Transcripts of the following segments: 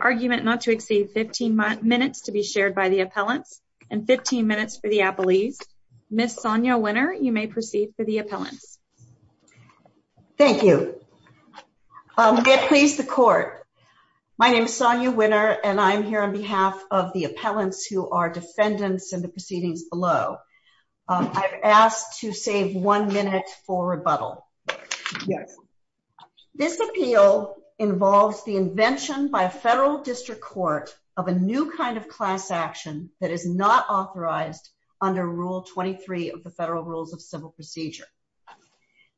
Argument not to exceed 15 minutes to be shared by the appellants and 15 minutes for the appellees, Miss Sonia winner. You may proceed for the appellants. Thank you. Please the court. My name is Sonia winner and I'm here on behalf of the appellants who are defendants and the proceedings below. I've asked to save one minute for rebuttal. Yes. This appeal involves the invention by a federal district court of a new kind of class action that is not authorized under Rule 23 of the federal rules of civil procedure.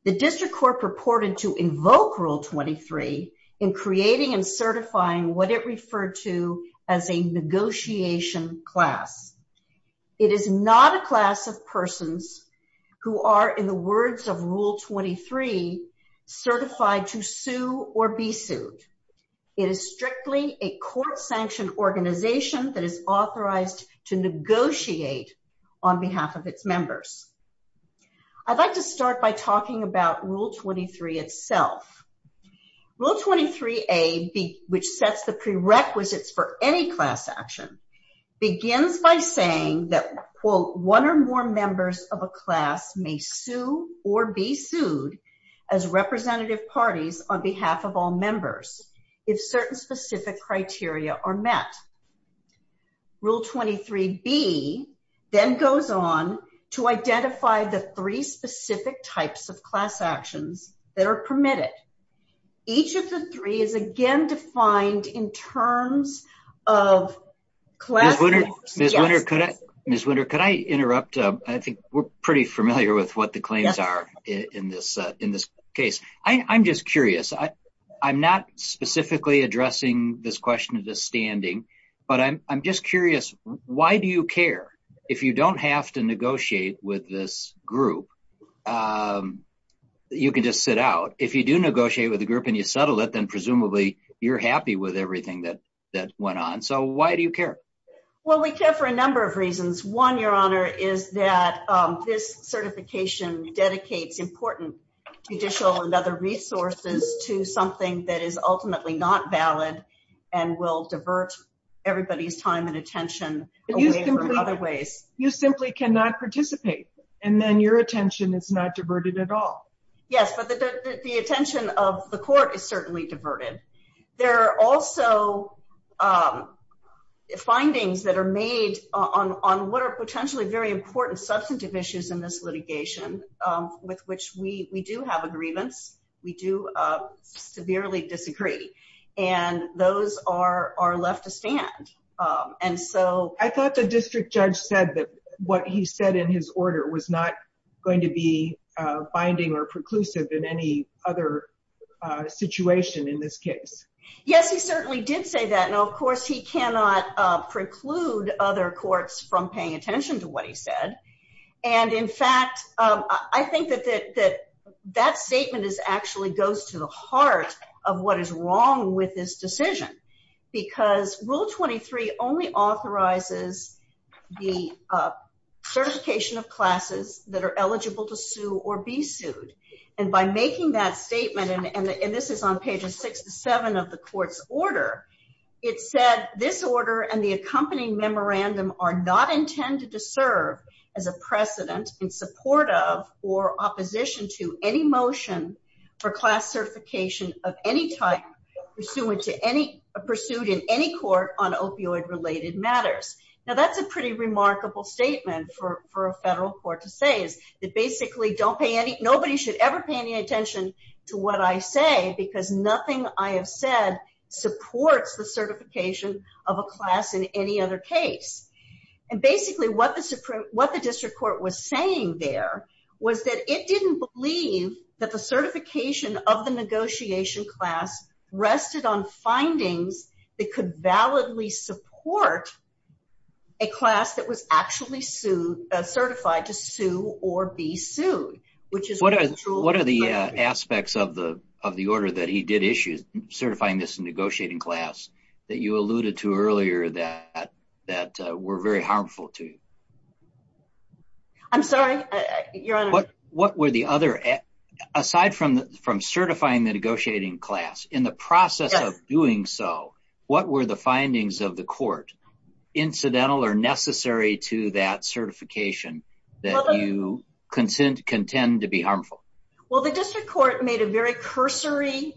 The district court purported to invoke Rule 23 in creating and certifying what it referred to as a negotiation class. It is not a class of persons who are in the words of Rule 23 certified to sue or be sued. It is strictly a court sanctioned organization that is authorized to negotiate on behalf of its members. I'd like to start by talking about Rule 23 itself. Rule 23 a big which sets the prerequisites for any class action begins by saying that quote one or more members of a class may sue or be sued as representative parties on behalf of all members. If certain specific criteria are met. Rule 23 be then goes on to identify the three specific types of class actions that are permitted. Each of the three is again defined in terms of class. Could I interrupt. I think we're pretty familiar with what the claims are in this in this case. I'm just curious. I'm not specifically addressing this question of the standing, but I'm just curious. Why do you care if you don't have to negotiate with this group. You can just sit out if you do negotiate with the group and you settle it then presumably you're happy with everything that that went on. So why do you care. Well, we care for a number of reasons. One, your honor, is that this certification dedicates important judicial and other resources to something that is ultimately not valid and will divert everybody's time and attention. Other ways, you simply cannot participate. And then your attention is not diverted at all. Yes, but the attention of the court is certainly diverted. There are also findings that are made on what are potentially very important substantive issues in this litigation, with which we do have a grievance. We do severely disagree. And those are left to stand. I thought the district judge said that what he said in his order was not going to be binding or preclusive in any other situation in this case. Yes, he certainly did say that. Now, of course, he cannot preclude other courts from paying attention to what he said. And in fact, I think that that statement actually goes to the heart of what is wrong with this decision. Because Rule 23 only authorizes the certification of classes that are eligible to sue or be sued. And by making that statement, and this is on pages six to seven of the court's order, it said, This order and the accompanying memorandum are not intended to serve as a precedent in support of or opposition to any motion for class certification of any type pursued in any court on opioid-related matters. Now, that's a pretty remarkable statement for a federal court to say is that basically nobody should ever pay any attention to what I say, because nothing I have said supports the certification of a class in any other case. And basically what the district court was saying there was that it didn't believe that the certification of the negotiation class rested on findings that could validly support a class that was actually certified to sue or be sued. What are the aspects of the order that he did issue, certifying this negotiating class, that you alluded to earlier that were very harmful to you? I'm sorry, Your Honor. Aside from certifying the negotiating class, in the process of doing so, what were the findings of the court, incidental or necessary to that certification, that you contend to be harmful? Well, the district court made a very cursory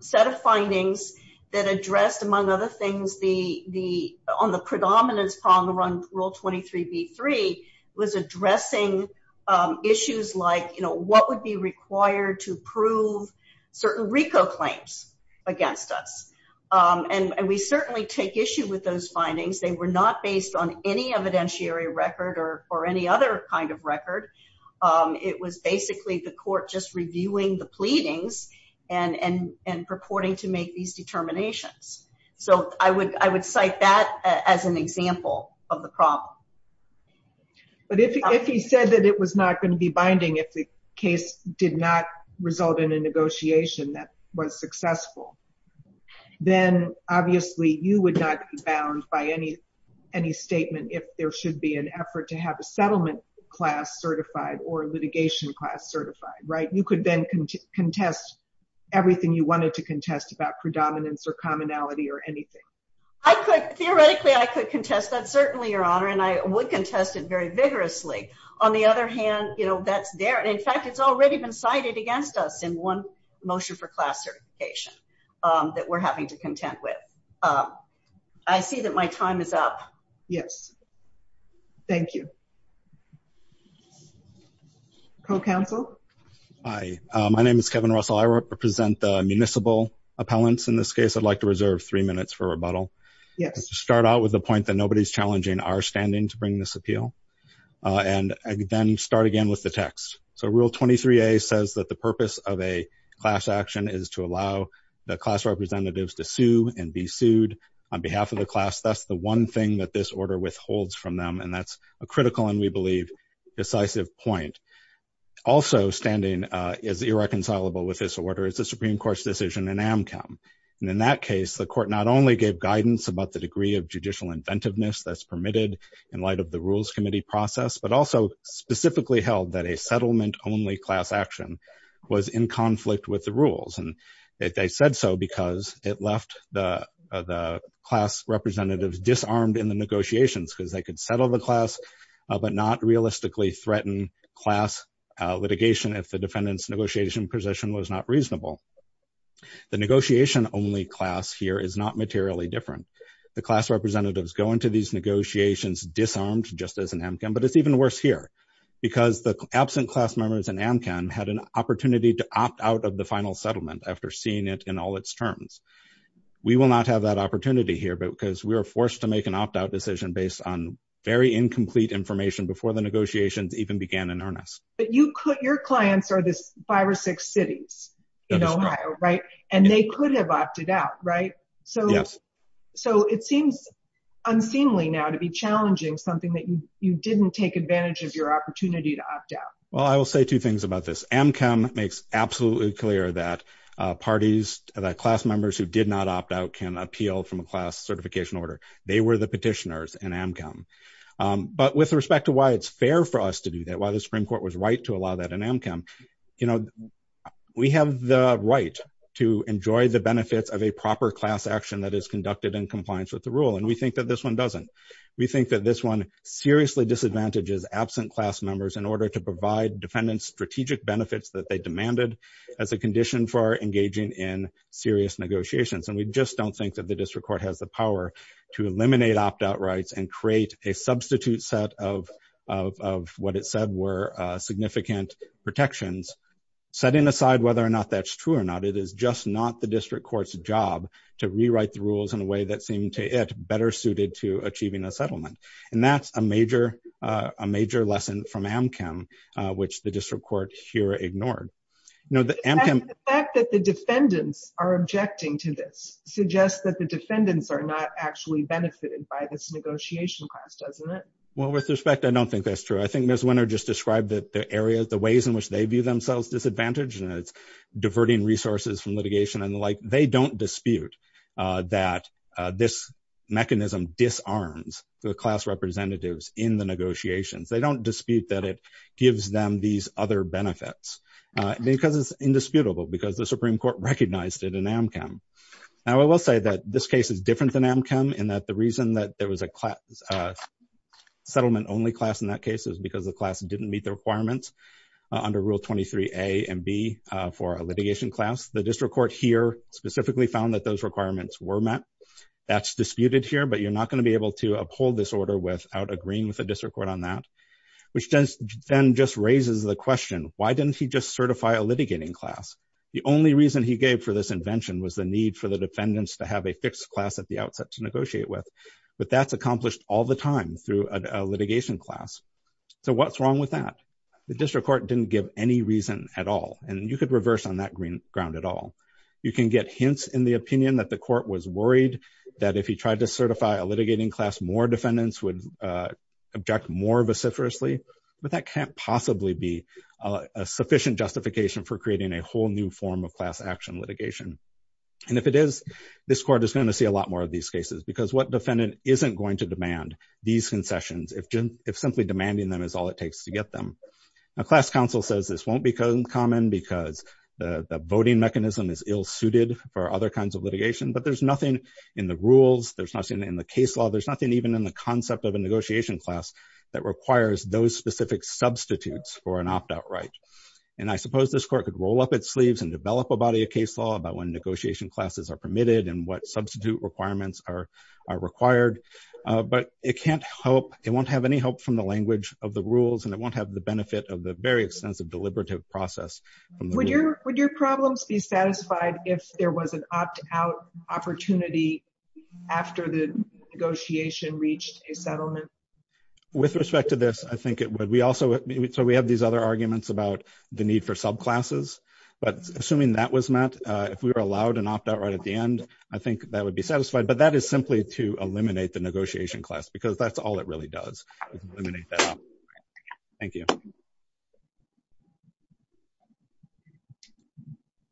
set of findings that addressed, among other things, on the predominance problem around Rule 23b-3, was addressing issues like what would be required to prove certain RICO claims against us. And we certainly take issue with those findings. They were not based on any evidentiary record or any other kind of record. It was basically the court just reviewing the pleadings and purporting to make these determinations. So I would cite that as an example of the problem. But if he said that it was not going to be binding, if the case did not result in a negotiation that was successful, then obviously you would not be bound by any statement if there should be an effort to have a settlement class certified or litigation class certified, right? You could then contest everything you wanted to contest about predominance or commonality or anything. Theoretically, I could contest that, certainly, Your Honor, and I would contest it very vigorously. On the other hand, that's there. In fact, it's already been cited against us in one motion for class certification that we're having to contend with. I see that my time is up. Yes. Thank you. Co-counsel? Hi, my name is Kevin Russell. I represent the municipal appellants in this case. I'd like to reserve three minutes for rebuttal. Start out with the point that nobody's challenging our standing to bring this appeal, and then start again with the text. So Rule 23a says that the purpose of a class action is to allow the class representatives to sue and be sued on behalf of the class. That's the one thing that this order withholds from them, and that's a critical and, we believe, decisive point. Also standing is irreconcilable with this order. The Supreme Court's decision in Amchem. And in that case, the court not only gave guidance about the degree of judicial inventiveness that's permitted in light of the Rules Committee process, but also specifically held that a settlement-only class action was in conflict with the rules. And they said so because it left the class representatives disarmed in the negotiations, because they could settle the class, but not realistically threaten class litigation if the defendant's negotiation position was not reasonable. The negotiation-only class here is not materially different. The class representatives go into these negotiations disarmed, just as in Amchem, but it's even worse here, because the absent class members in Amchem had an opportunity to opt out of the final settlement after seeing it in all its terms. We will not have that opportunity here, because we are forced to make an opt-out decision based on very incomplete information before the negotiations even began in earnest. But your clients are these five or six cities in Ohio, right? That is correct. And they could have opted out, right? Yes. So it seems unseemly now to be challenging something that you didn't take advantage of your opportunity to opt out. Well, I will say two things about this. Amchem makes absolutely clear that parties, that class members who did not opt out can appeal from a class certification order. They were the petitioners in Amchem. But with respect to why it's fair for us to do that, why the Supreme Court was right to allow that in Amchem, you know, we have the right to enjoy the benefits of a proper class action that is conducted in compliance with the rule. And we think that this one doesn't. We think that this one seriously disadvantages absent class members in order to provide defendants strategic benefits that they demanded as a condition for engaging in serious negotiations. And we just don't think that the district court has the power to eliminate opt-out rights and create a substitute set of what it said were significant protections. Setting aside whether or not that's true or not, it is just not the district court's job to rewrite the rules in a way that seemed to it better suited to achieving a settlement. And that's a major lesson from Amchem, which the district court here ignored. The fact that the defendants are objecting to this suggests that the defendants are not actually benefited by this negotiation class, doesn't it? Well, with respect, I don't think that's true. I think Ms. Winter just described that the areas, the ways in which they view themselves disadvantaged and it's diverting resources from litigation and the like, they don't dispute that this mechanism disarms the class representatives in the negotiations. They don't dispute that it gives them these other benefits because it's indisputable because the Supreme Court recognized it in Amchem. Now, I will say that this case is different than Amchem in that the reason that there was a settlement-only class in that case is because the class didn't meet the requirements under Rule 23A and B for a litigation class. The district court here specifically found that those requirements were met. That's disputed here, but you're not going to be able to uphold this order without agreeing with the district court on that, which then just raises the question, why didn't he just certify a litigating class? The only reason he gave for this invention was the need for the defendants to have a fixed class at the outset to negotiate with. But that's accomplished all the time through a litigation class. So what's wrong with that? The district court didn't give any reason at all, and you could reverse on that green ground at all. You can get hints in the opinion that the court was worried that if he tried to certify a litigating class, more defendants would object more vociferously. But that can't possibly be a sufficient justification for creating a whole new form of class action litigation. And if it is, this court is going to see a lot more of these cases because what defendant isn't going to demand these concessions if simply demanding them is all it takes to get them? A class counsel says this won't become common because the voting mechanism is ill-suited for other kinds of litigation. But there's nothing in the rules. There's nothing in the case law. There's nothing even in the concept of a negotiation class that requires those specific substitutes for an opt-out right. And I suppose this court could roll up its sleeves and develop a body of case law about when negotiation classes are permitted and what substitute requirements are required. But it can't help. It won't have any help from the language of the rules, and it won't have the benefit of the very extensive deliberative process. Would your problems be satisfied if there was an opt-out opportunity after the negotiation reached a settlement? With respect to this, I think it would. So we have these other arguments about the need for subclasses. But assuming that was met, if we were allowed an opt-out right at the end, I think that would be satisfied. But that is simply to eliminate the negotiation class, because that's all it really does, is eliminate that opt-out right. Thank you.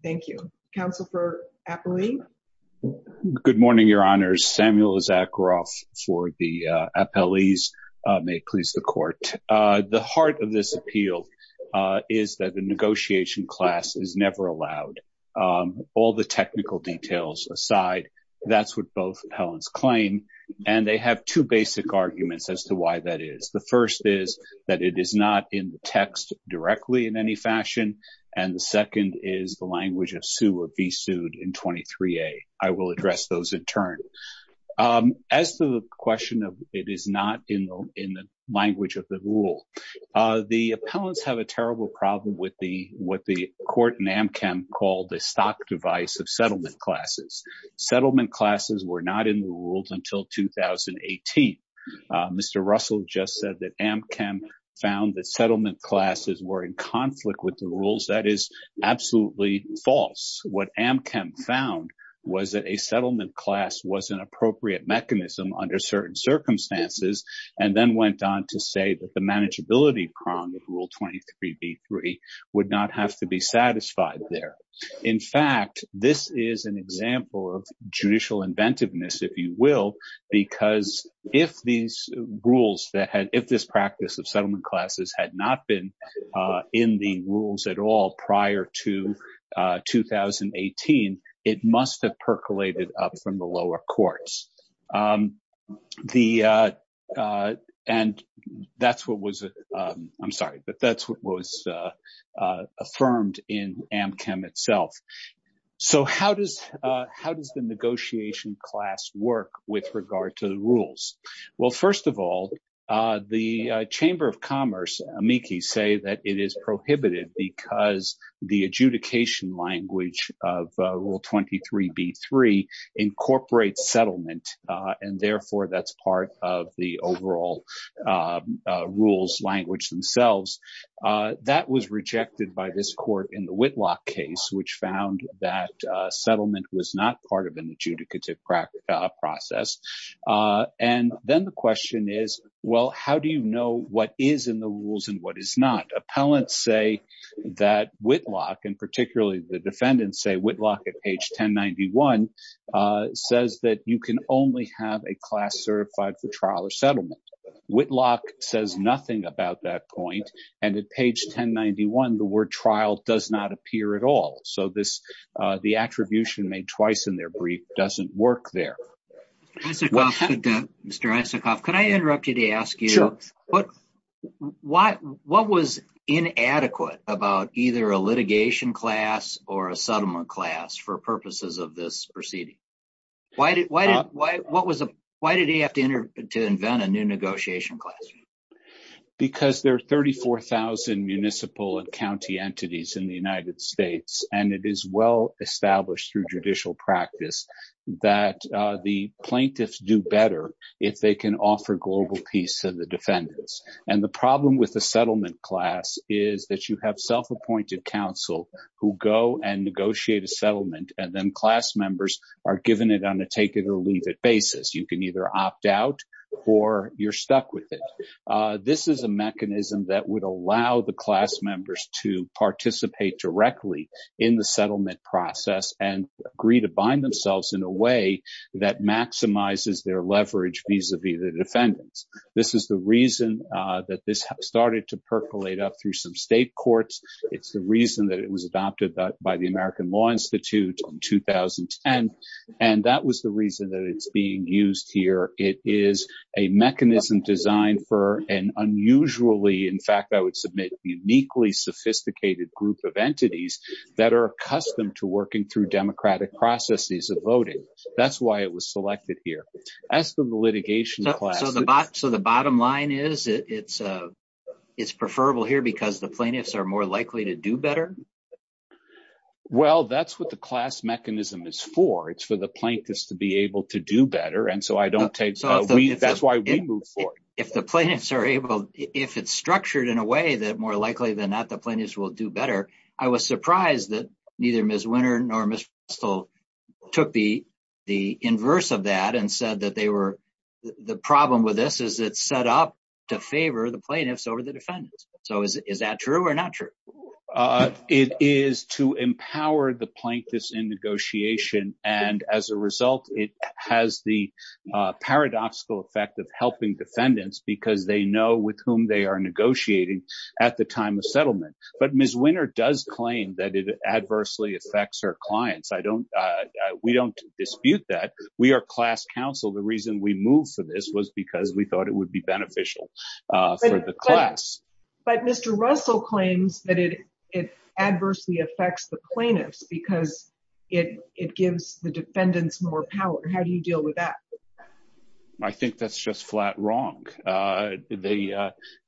Thank you. Counsel for Appellee? Good morning, Your Honors. Samuel Issacharoff for the Appellees. May it please the Court. The heart of this appeal is that the negotiation class is never allowed. All the technical details aside, that's what both appellants claim. And they have two basic arguments as to why that is. The first is that it is not in the text directly in any fashion. And the second is the language of sue or be sued in 23A. I will address those in turn. As to the question of it is not in the language of the rule, the appellants have a terrible problem with the court in AmChem called the stock device of settlement classes. Settlement classes were not in the rules until 2018. Mr. Russell just said that AmChem found that settlement classes were in conflict with the rules. That is absolutely false. What AmChem found was that a settlement class was an appropriate mechanism under certain circumstances and then went on to say that the manageability prong of rule 23B3 would not have to be satisfied there. In fact, this is an example of judicial inventiveness, if you will, because if these rules that had if this practice of settlement classes had not been in the rules at all prior to 2018, it must have percolated up from the lower courts. The and that's what was I'm sorry, but that's what was affirmed in AmChem itself. So how does how does the negotiation class work with regard to the rules? Well, first of all, the Chamber of Commerce amici say that it is prohibited because the adjudication language of rule 23B3 incorporates settlement and therefore that's part of the overall rules language themselves. That was rejected by this court in the Whitlock case, which found that settlement was not part of an adjudicative process. And then the question is, well, how do you know what is in the rules and what is not? Appellants say that Whitlock and particularly the defendants say Whitlock at page 1091 says that you can only have a class certified for trial or settlement. Whitlock says nothing about that point. And at page 1091, the word trial does not appear at all. So this the attribution made twice in their brief doesn't work there. Mr. Isikoff, could I interrupt you to ask you what was inadequate about either a litigation class or a settlement class for purposes of this proceeding? Why did he have to invent a new negotiation class? Because there are 34,000 municipal and county entities in the United States, and it is well established through judicial practice that the plaintiffs do better if they can offer global peace to the defendants. And the problem with the settlement class is that you have self-appointed counsel who go and negotiate a settlement and then class members are given it on a take it or leave it basis. You can either opt out or you're stuck with it. This is a mechanism that would allow the class members to participate directly in the settlement process and agree to bind themselves in a way that maximizes their leverage vis-a-vis the defendants. This is the reason that this started to percolate up through some state courts. It's the reason that it was adopted by the American Law Institute in 2010. And that was the reason that it's being used here. It is a mechanism designed for an unusually, in fact, I would submit uniquely sophisticated group of entities that are accustomed to working through democratic processes of voting. That's why it was selected here. That's the litigation class. So the bottom line is it's preferable here because the plaintiffs are more likely to do better? Well, that's what the class mechanism is for. It's for the plaintiffs to be able to do better. And so that's why we move forward. If the plaintiffs are able, if it's structured in a way that more likely than not, the plaintiffs will do better. I was surprised that neither Ms. Winter nor Ms. Russell took the inverse of that and said that they were the problem with this is it's set up to favor the plaintiffs over the defendants. So is that true or not true? It is to empower the plaintiffs in negotiation. And as a result, it has the paradoxical effect of helping defendants because they know with whom they are negotiating at the time of settlement. But Ms. Winter does claim that it adversely affects her clients. I don't we don't dispute that. We are class counsel. The reason we move for this was because we thought it would be beneficial for the class. But Mr. Russell claims that it adversely affects the plaintiffs because it it gives the defendants more power. How do you deal with that? I think that's just flat wrong. They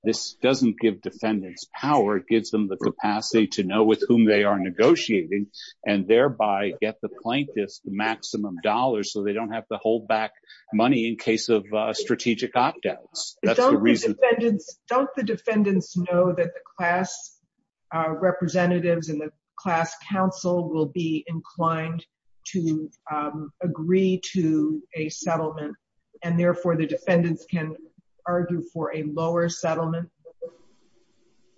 this doesn't give defendants power. It gives them the capacity to know with whom they are negotiating and thereby get the plaintiffs the maximum dollars. So they don't have to hold back money in case of strategic opt outs. Don't the defendants know that the class representatives and the class counsel will be inclined to agree to a settlement and therefore the defendants can argue for a lower settlement?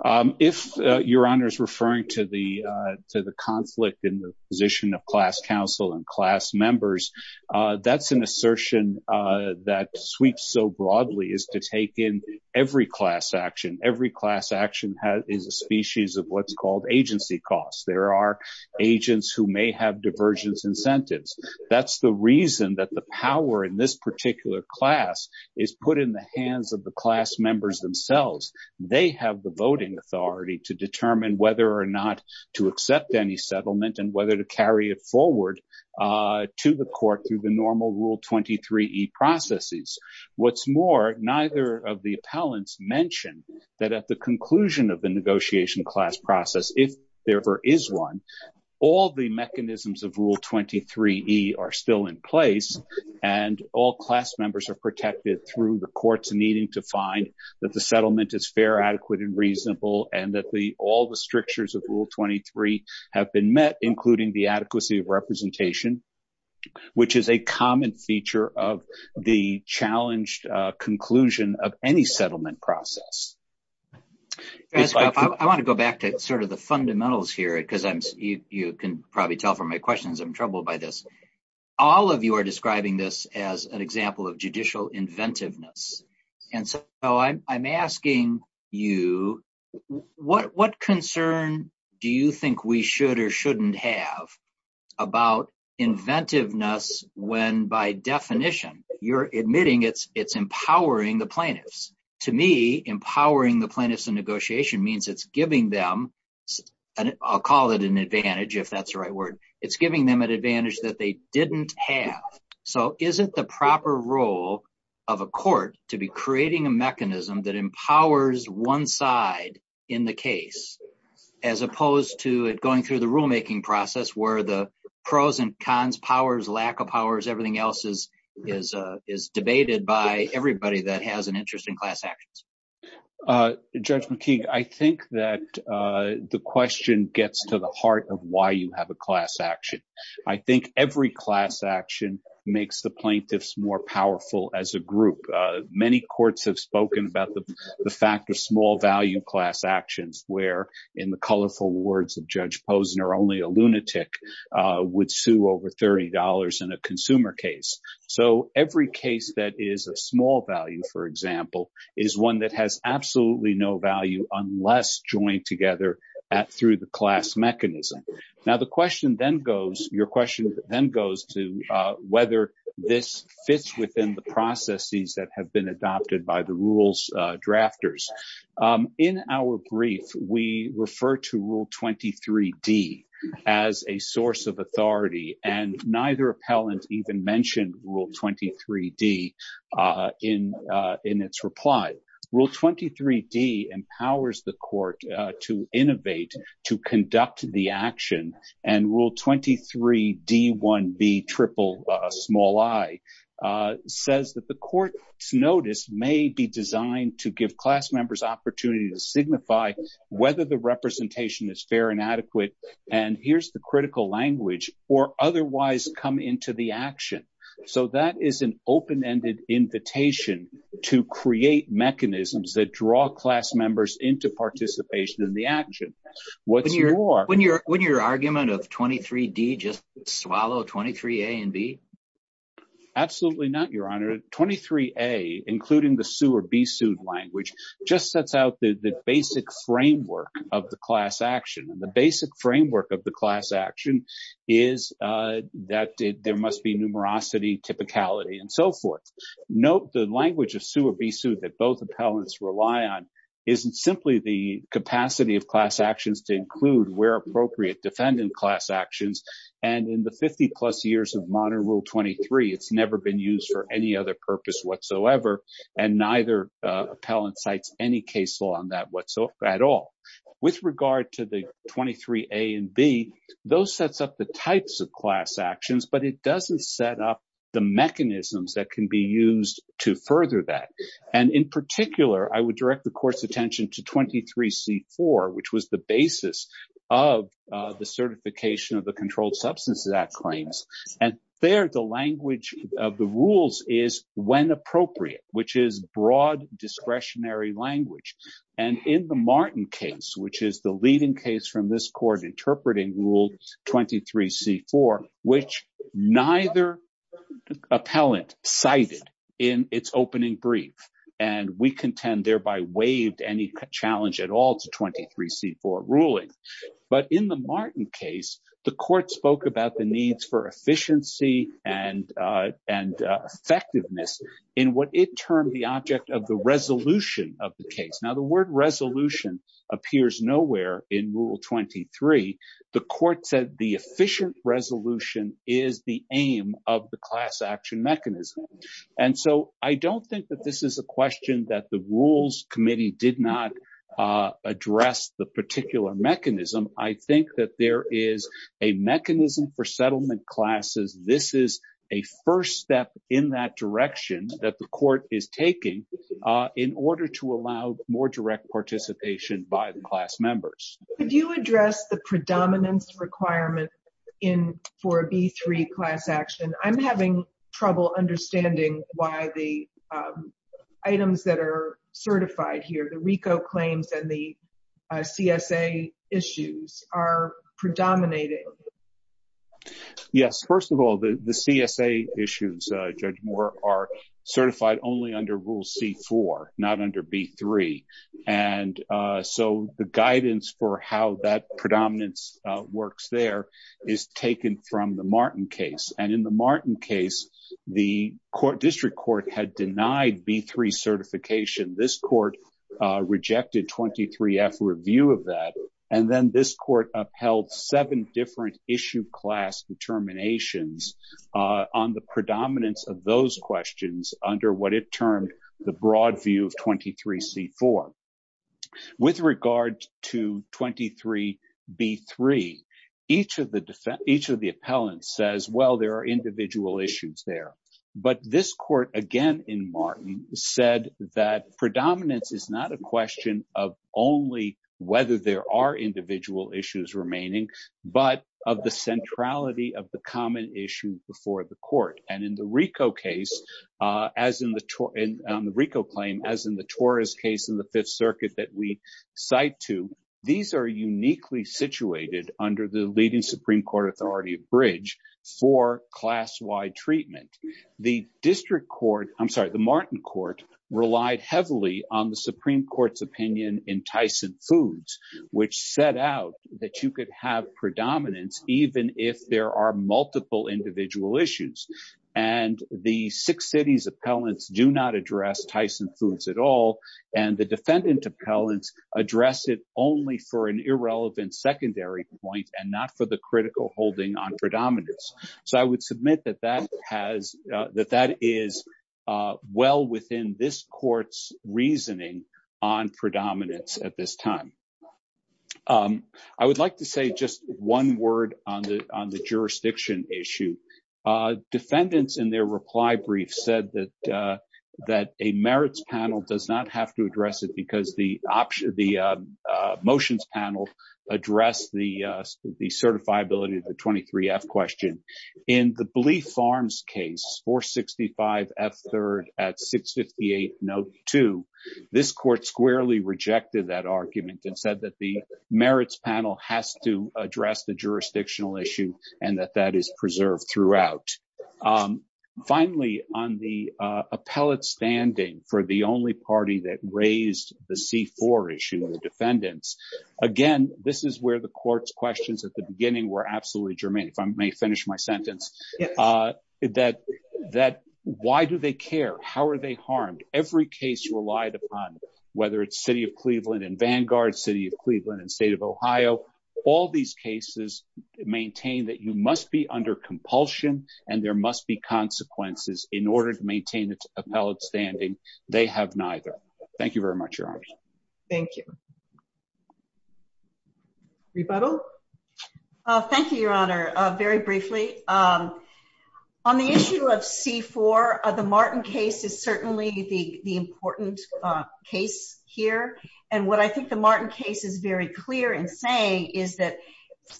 If your honor is referring to the to the conflict in the position of class counsel and class members, that's an assertion that sweeps so broadly is to take in every class action. Every class action is a species of what's called agency costs. There are agents who may have divergence incentives. That's the reason that the power in this particular class is put in the hands of the class members themselves. They have the voting authority to determine whether or not to accept any settlement and whether to carry it forward to the court through the normal rule 23 processes. What's more, neither of the appellants mentioned that at the conclusion of the negotiation class process, if there ever is one, all the mechanisms of rule 23 are still in place and all class members are protected through the courts needing to find that the settlement is fair, adequate and reasonable. And that the all the strictures of rule 23 have been met, including the adequacy of representation, which is a common feature of the challenged conclusion of any settlement process. I want to go back to sort of the fundamentals here because I'm you can probably tell from my questions I'm troubled by this. All of you are describing this as an example of judicial inventiveness. And so I'm asking you what what concern. Do you think we should or shouldn't have about inventiveness when by definition, you're admitting it's it's empowering the plaintiffs. To me, empowering the plaintiffs in negotiation means it's giving them. And I'll call it an advantage if that's the right word. It's giving them an advantage that they didn't have. So isn't the proper role of a court to be creating a mechanism that empowers one side in the case, as opposed to it going through the rulemaking process where the pros and Judge McKee, I think that the question gets to the heart of why you have a class action. I think every class action makes the plaintiffs more powerful as a group. Many courts have spoken about the fact of small value class actions where in the colorful words of Judge Posner, only a lunatic would sue over $30 in a consumer case. So every case that is a small value, for example, is one that has absolutely no value unless joined together at through the class mechanism. Now, the question then goes, your question then goes to whether this fits within the processes that have been adopted by the rules drafters. In our brief, we refer to Rule 23D as a source of authority, and neither appellant even mentioned Rule 23D in its reply. Rule 23D empowers the court to innovate, to conduct the action, and Rule 23D1B triple small I says that the court's notice may be designed to give class members opportunity to signify whether the representation is fair and adequate. And here's the critical language or otherwise come into the action. So that is an open-ended invitation to create mechanisms that draw class members into participation in the action. When your argument of 23D just swallow 23A and B? Absolutely not, Your Honor. 23A, including the sue or be sued language, just sets out the basic framework of the class action. And the basic framework of the class action is that there must be numerosity, typicality, and so forth. Note the language of sue or be sued that both appellants rely on isn't simply the capacity of class actions to include where appropriate defendant class actions. And in the 50-plus years of modern Rule 23, it's never been used for any other purpose whatsoever, and neither appellant cites any case law on that whatsoever at all. With regard to the 23A and B, those sets up the types of class actions, but it doesn't set up the mechanisms that can be used to further that. And in particular, I would direct the court's attention to 23C4, which was the basis of the certification of the Controlled Substances Act claims. And there, the language of the rules is when appropriate, which is broad discretionary language. And in the Martin case, which is the leading case from this court interpreting Rule 23C4, which neither appellant cited in its opening brief, and we contend thereby waived any challenge at all to 23C4 ruling. But in the Martin case, the court spoke about the needs for efficiency and effectiveness in what it termed the object of the resolution of the case. Now, the word resolution appears nowhere in Rule 23. The court said the efficient resolution is the aim of the class action mechanism. And so I don't think that this is a question that the Rules Committee did not address the particular mechanism. I think that there is a mechanism for settlement classes. This is a first step in that direction that the court is taking in order to allow more direct participation by the class members. Could you address the predominance requirement for a B3 class action? I'm having trouble understanding why the items that are certified here, the RICO claims and the CSA issues, are predominating. Yes. First of all, the CSA issues, Judge Moore, are certified only under Rule C4, not under B3. And so the guidance for how that predominance works there is taken from the Martin case. And in the Martin case, the district court had denied B3 certification. This court rejected 23F review of that. And then this court upheld seven different issue class determinations on the predominance of those questions under what it termed the broad view of 23C4. With regard to 23B3, each of the defendants, each of the appellants says, well, there are individual issues there. But this court, again in Martin, said that predominance is not a question of only whether there are individual issues remaining, but of the centrality of the common issue before the court. And in the RICO case, as in the RICO claim, as in the Torres case in the Fifth Circuit that we cite to, these are uniquely situated under the leading Supreme Court authority of bridge for class-wide treatment. The district court, I'm sorry, the Martin court relied heavily on the Supreme Court's opinion in Tyson Foods, which set out that you could have predominance even if there are multiple individual issues. And the six cities appellants do not address Tyson Foods at all. And the defendant appellants address it only for an irrelevant secondary point and not for the critical holding on predominance. So I would submit that that is well within this court's reasoning on predominance at this time. I would like to say just one word on the jurisdiction issue. Defendants in their reply brief said that a merits panel does not have to address it because the motions panel addressed the certifiability of the 23F question. In the Blea Farms case, 465F3rd at 658 note 2, this court squarely rejected that argument and said that the merits panel has to address the jurisdictional issue and that that is preserved throughout. Finally, on the appellate standing for the only party that raised the C4 issue, the defendants. Again, this is where the court's questions at the beginning were absolutely germane. If I may finish my sentence that that why do they care? How are they harmed? Whether it's City of Cleveland and Vanguard, City of Cleveland and State of Ohio, all these cases maintain that you must be under compulsion and there must be consequences in order to maintain its appellate standing. They have neither. Thank you very much. Your Honor. Thank you. Rebuttal. Thank you, Your Honor. Thank you, Your Honor. Very briefly. On the issue of C4, the Martin case is certainly the important case here. And what I think the Martin case is very clear in saying is that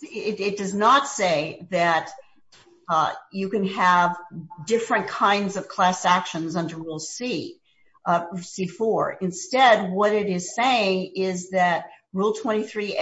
it does not say that you can have different kinds of class actions under rule C, C4. Ultimately,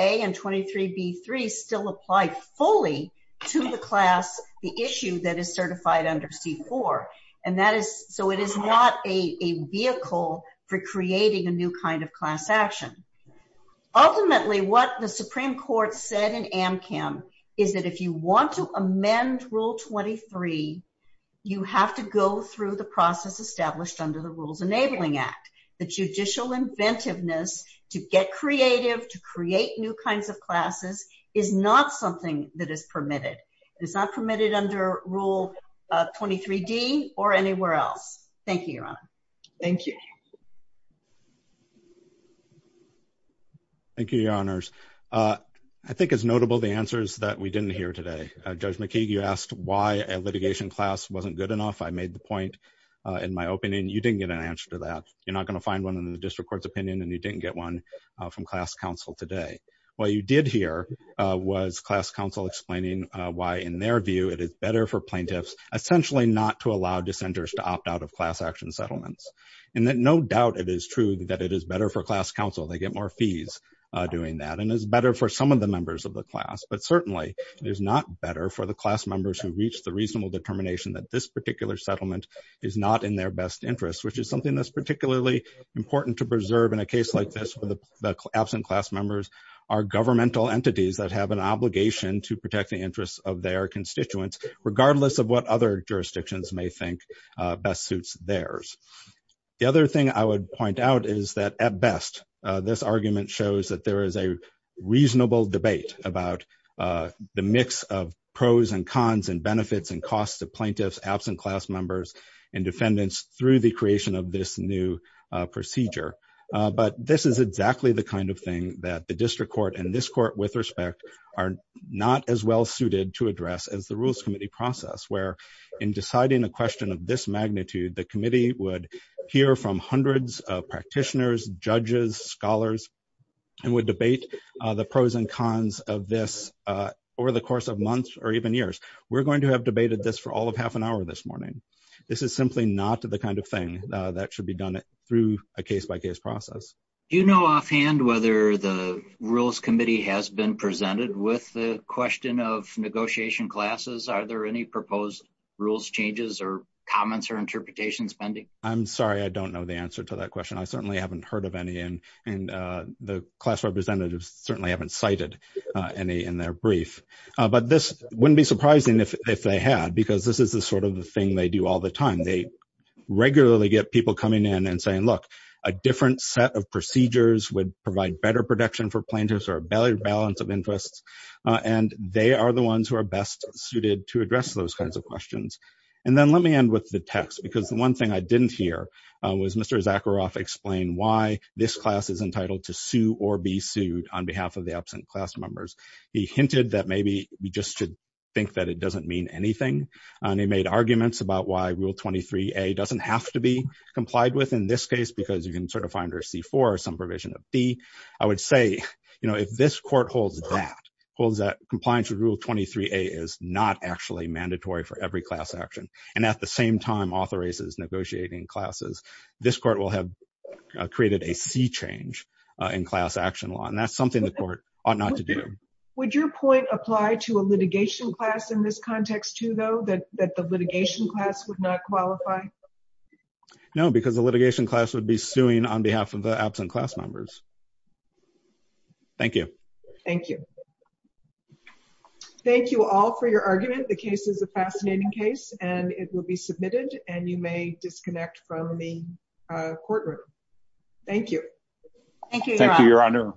what the Supreme Court said in AMCAM is that if you want to amend Rule 23, you have to go through the process established under the Rules Enabling Act. The judicial inventiveness to get creative, to create new kinds of classes is not something that is permitted. It's not permitted under Rule 23D or anywhere else. Thank you, Your Honor. Thank you. Thank you, Your Honors. I think it's notable the answers that we didn't hear today. Judge McKeague, you asked why a litigation class wasn't good enough. I made the point in my opening. You didn't get an answer to that. You're not going to find one in the district court's opinion, and you didn't get one from class counsel today. What you did hear was class counsel explaining why, in their view, it is better for plaintiffs essentially not to allow dissenters to opt out of class action settlements. And no doubt it is true that it is better for class counsel. They get more fees doing that. And it's better for some of the members of the class. But certainly, it is not better for the class members who reach the reasonable determination that this particular settlement is not in their best interest, which is something that's particularly important to preserve in a case like this where the absent class members are governmental entities that have an obligation to protect the interests of their constituents, regardless of what other jurisdictions may think best suits theirs. The other thing I would point out is that, at best, this argument shows that there is a reasonable debate about the mix of pros and cons and benefits and costs of plaintiffs absent class members and defendants through the creation of this new procedure. But this is exactly the kind of thing that the district court and this court, with respect, are not as well suited to address as the Rules Committee process, where, in deciding a question of this magnitude, the committee would hear from hundreds of practitioners, judges, scholars, and would debate the pros and cons of this over the course of months or even years. We're going to have debated this for all of half an hour this morning. This is simply not the kind of thing that should be done through a case-by-case process. Do you know offhand whether the Rules Committee has been presented with the question of negotiation classes? Are there any proposed rules changes or comments or interpretations pending? I'm sorry, I don't know the answer to that question. I certainly haven't heard of any, and the class representatives certainly haven't cited any in their brief. But this wouldn't be surprising if they had, because this is the sort of thing they do all the time. They regularly get people coming in and saying, look, a different set of procedures would provide better protection for plaintiffs or a better balance of interests. And they are the ones who are best suited to address those kinds of questions. And then let me end with the text, because the one thing I didn't hear was Mr. Zakharoff explain why this class is entitled to sue or be sued on behalf of the absent class members. He hinted that maybe we just should think that it doesn't mean anything. And he made arguments about why Rule 23A doesn't have to be complied with in this case, because you can sort of find her C-4 or some provision of B. I would say, you know, if this court holds that, holds that compliance with Rule 23A is not actually mandatory for every class action, and at the same time authorizes negotiating classes, this court will have created a sea change in class action law. And that's something the court ought not to do. Would your point apply to a litigation class in this context, too, though, that the litigation class would not qualify? No, because the litigation class would be suing on behalf of the absent class members. Thank you. Thank you. Thank you all for your argument. The case is a fascinating case and it will be submitted and you may disconnect from the courtroom. Thank you. Thank you, Your Honor.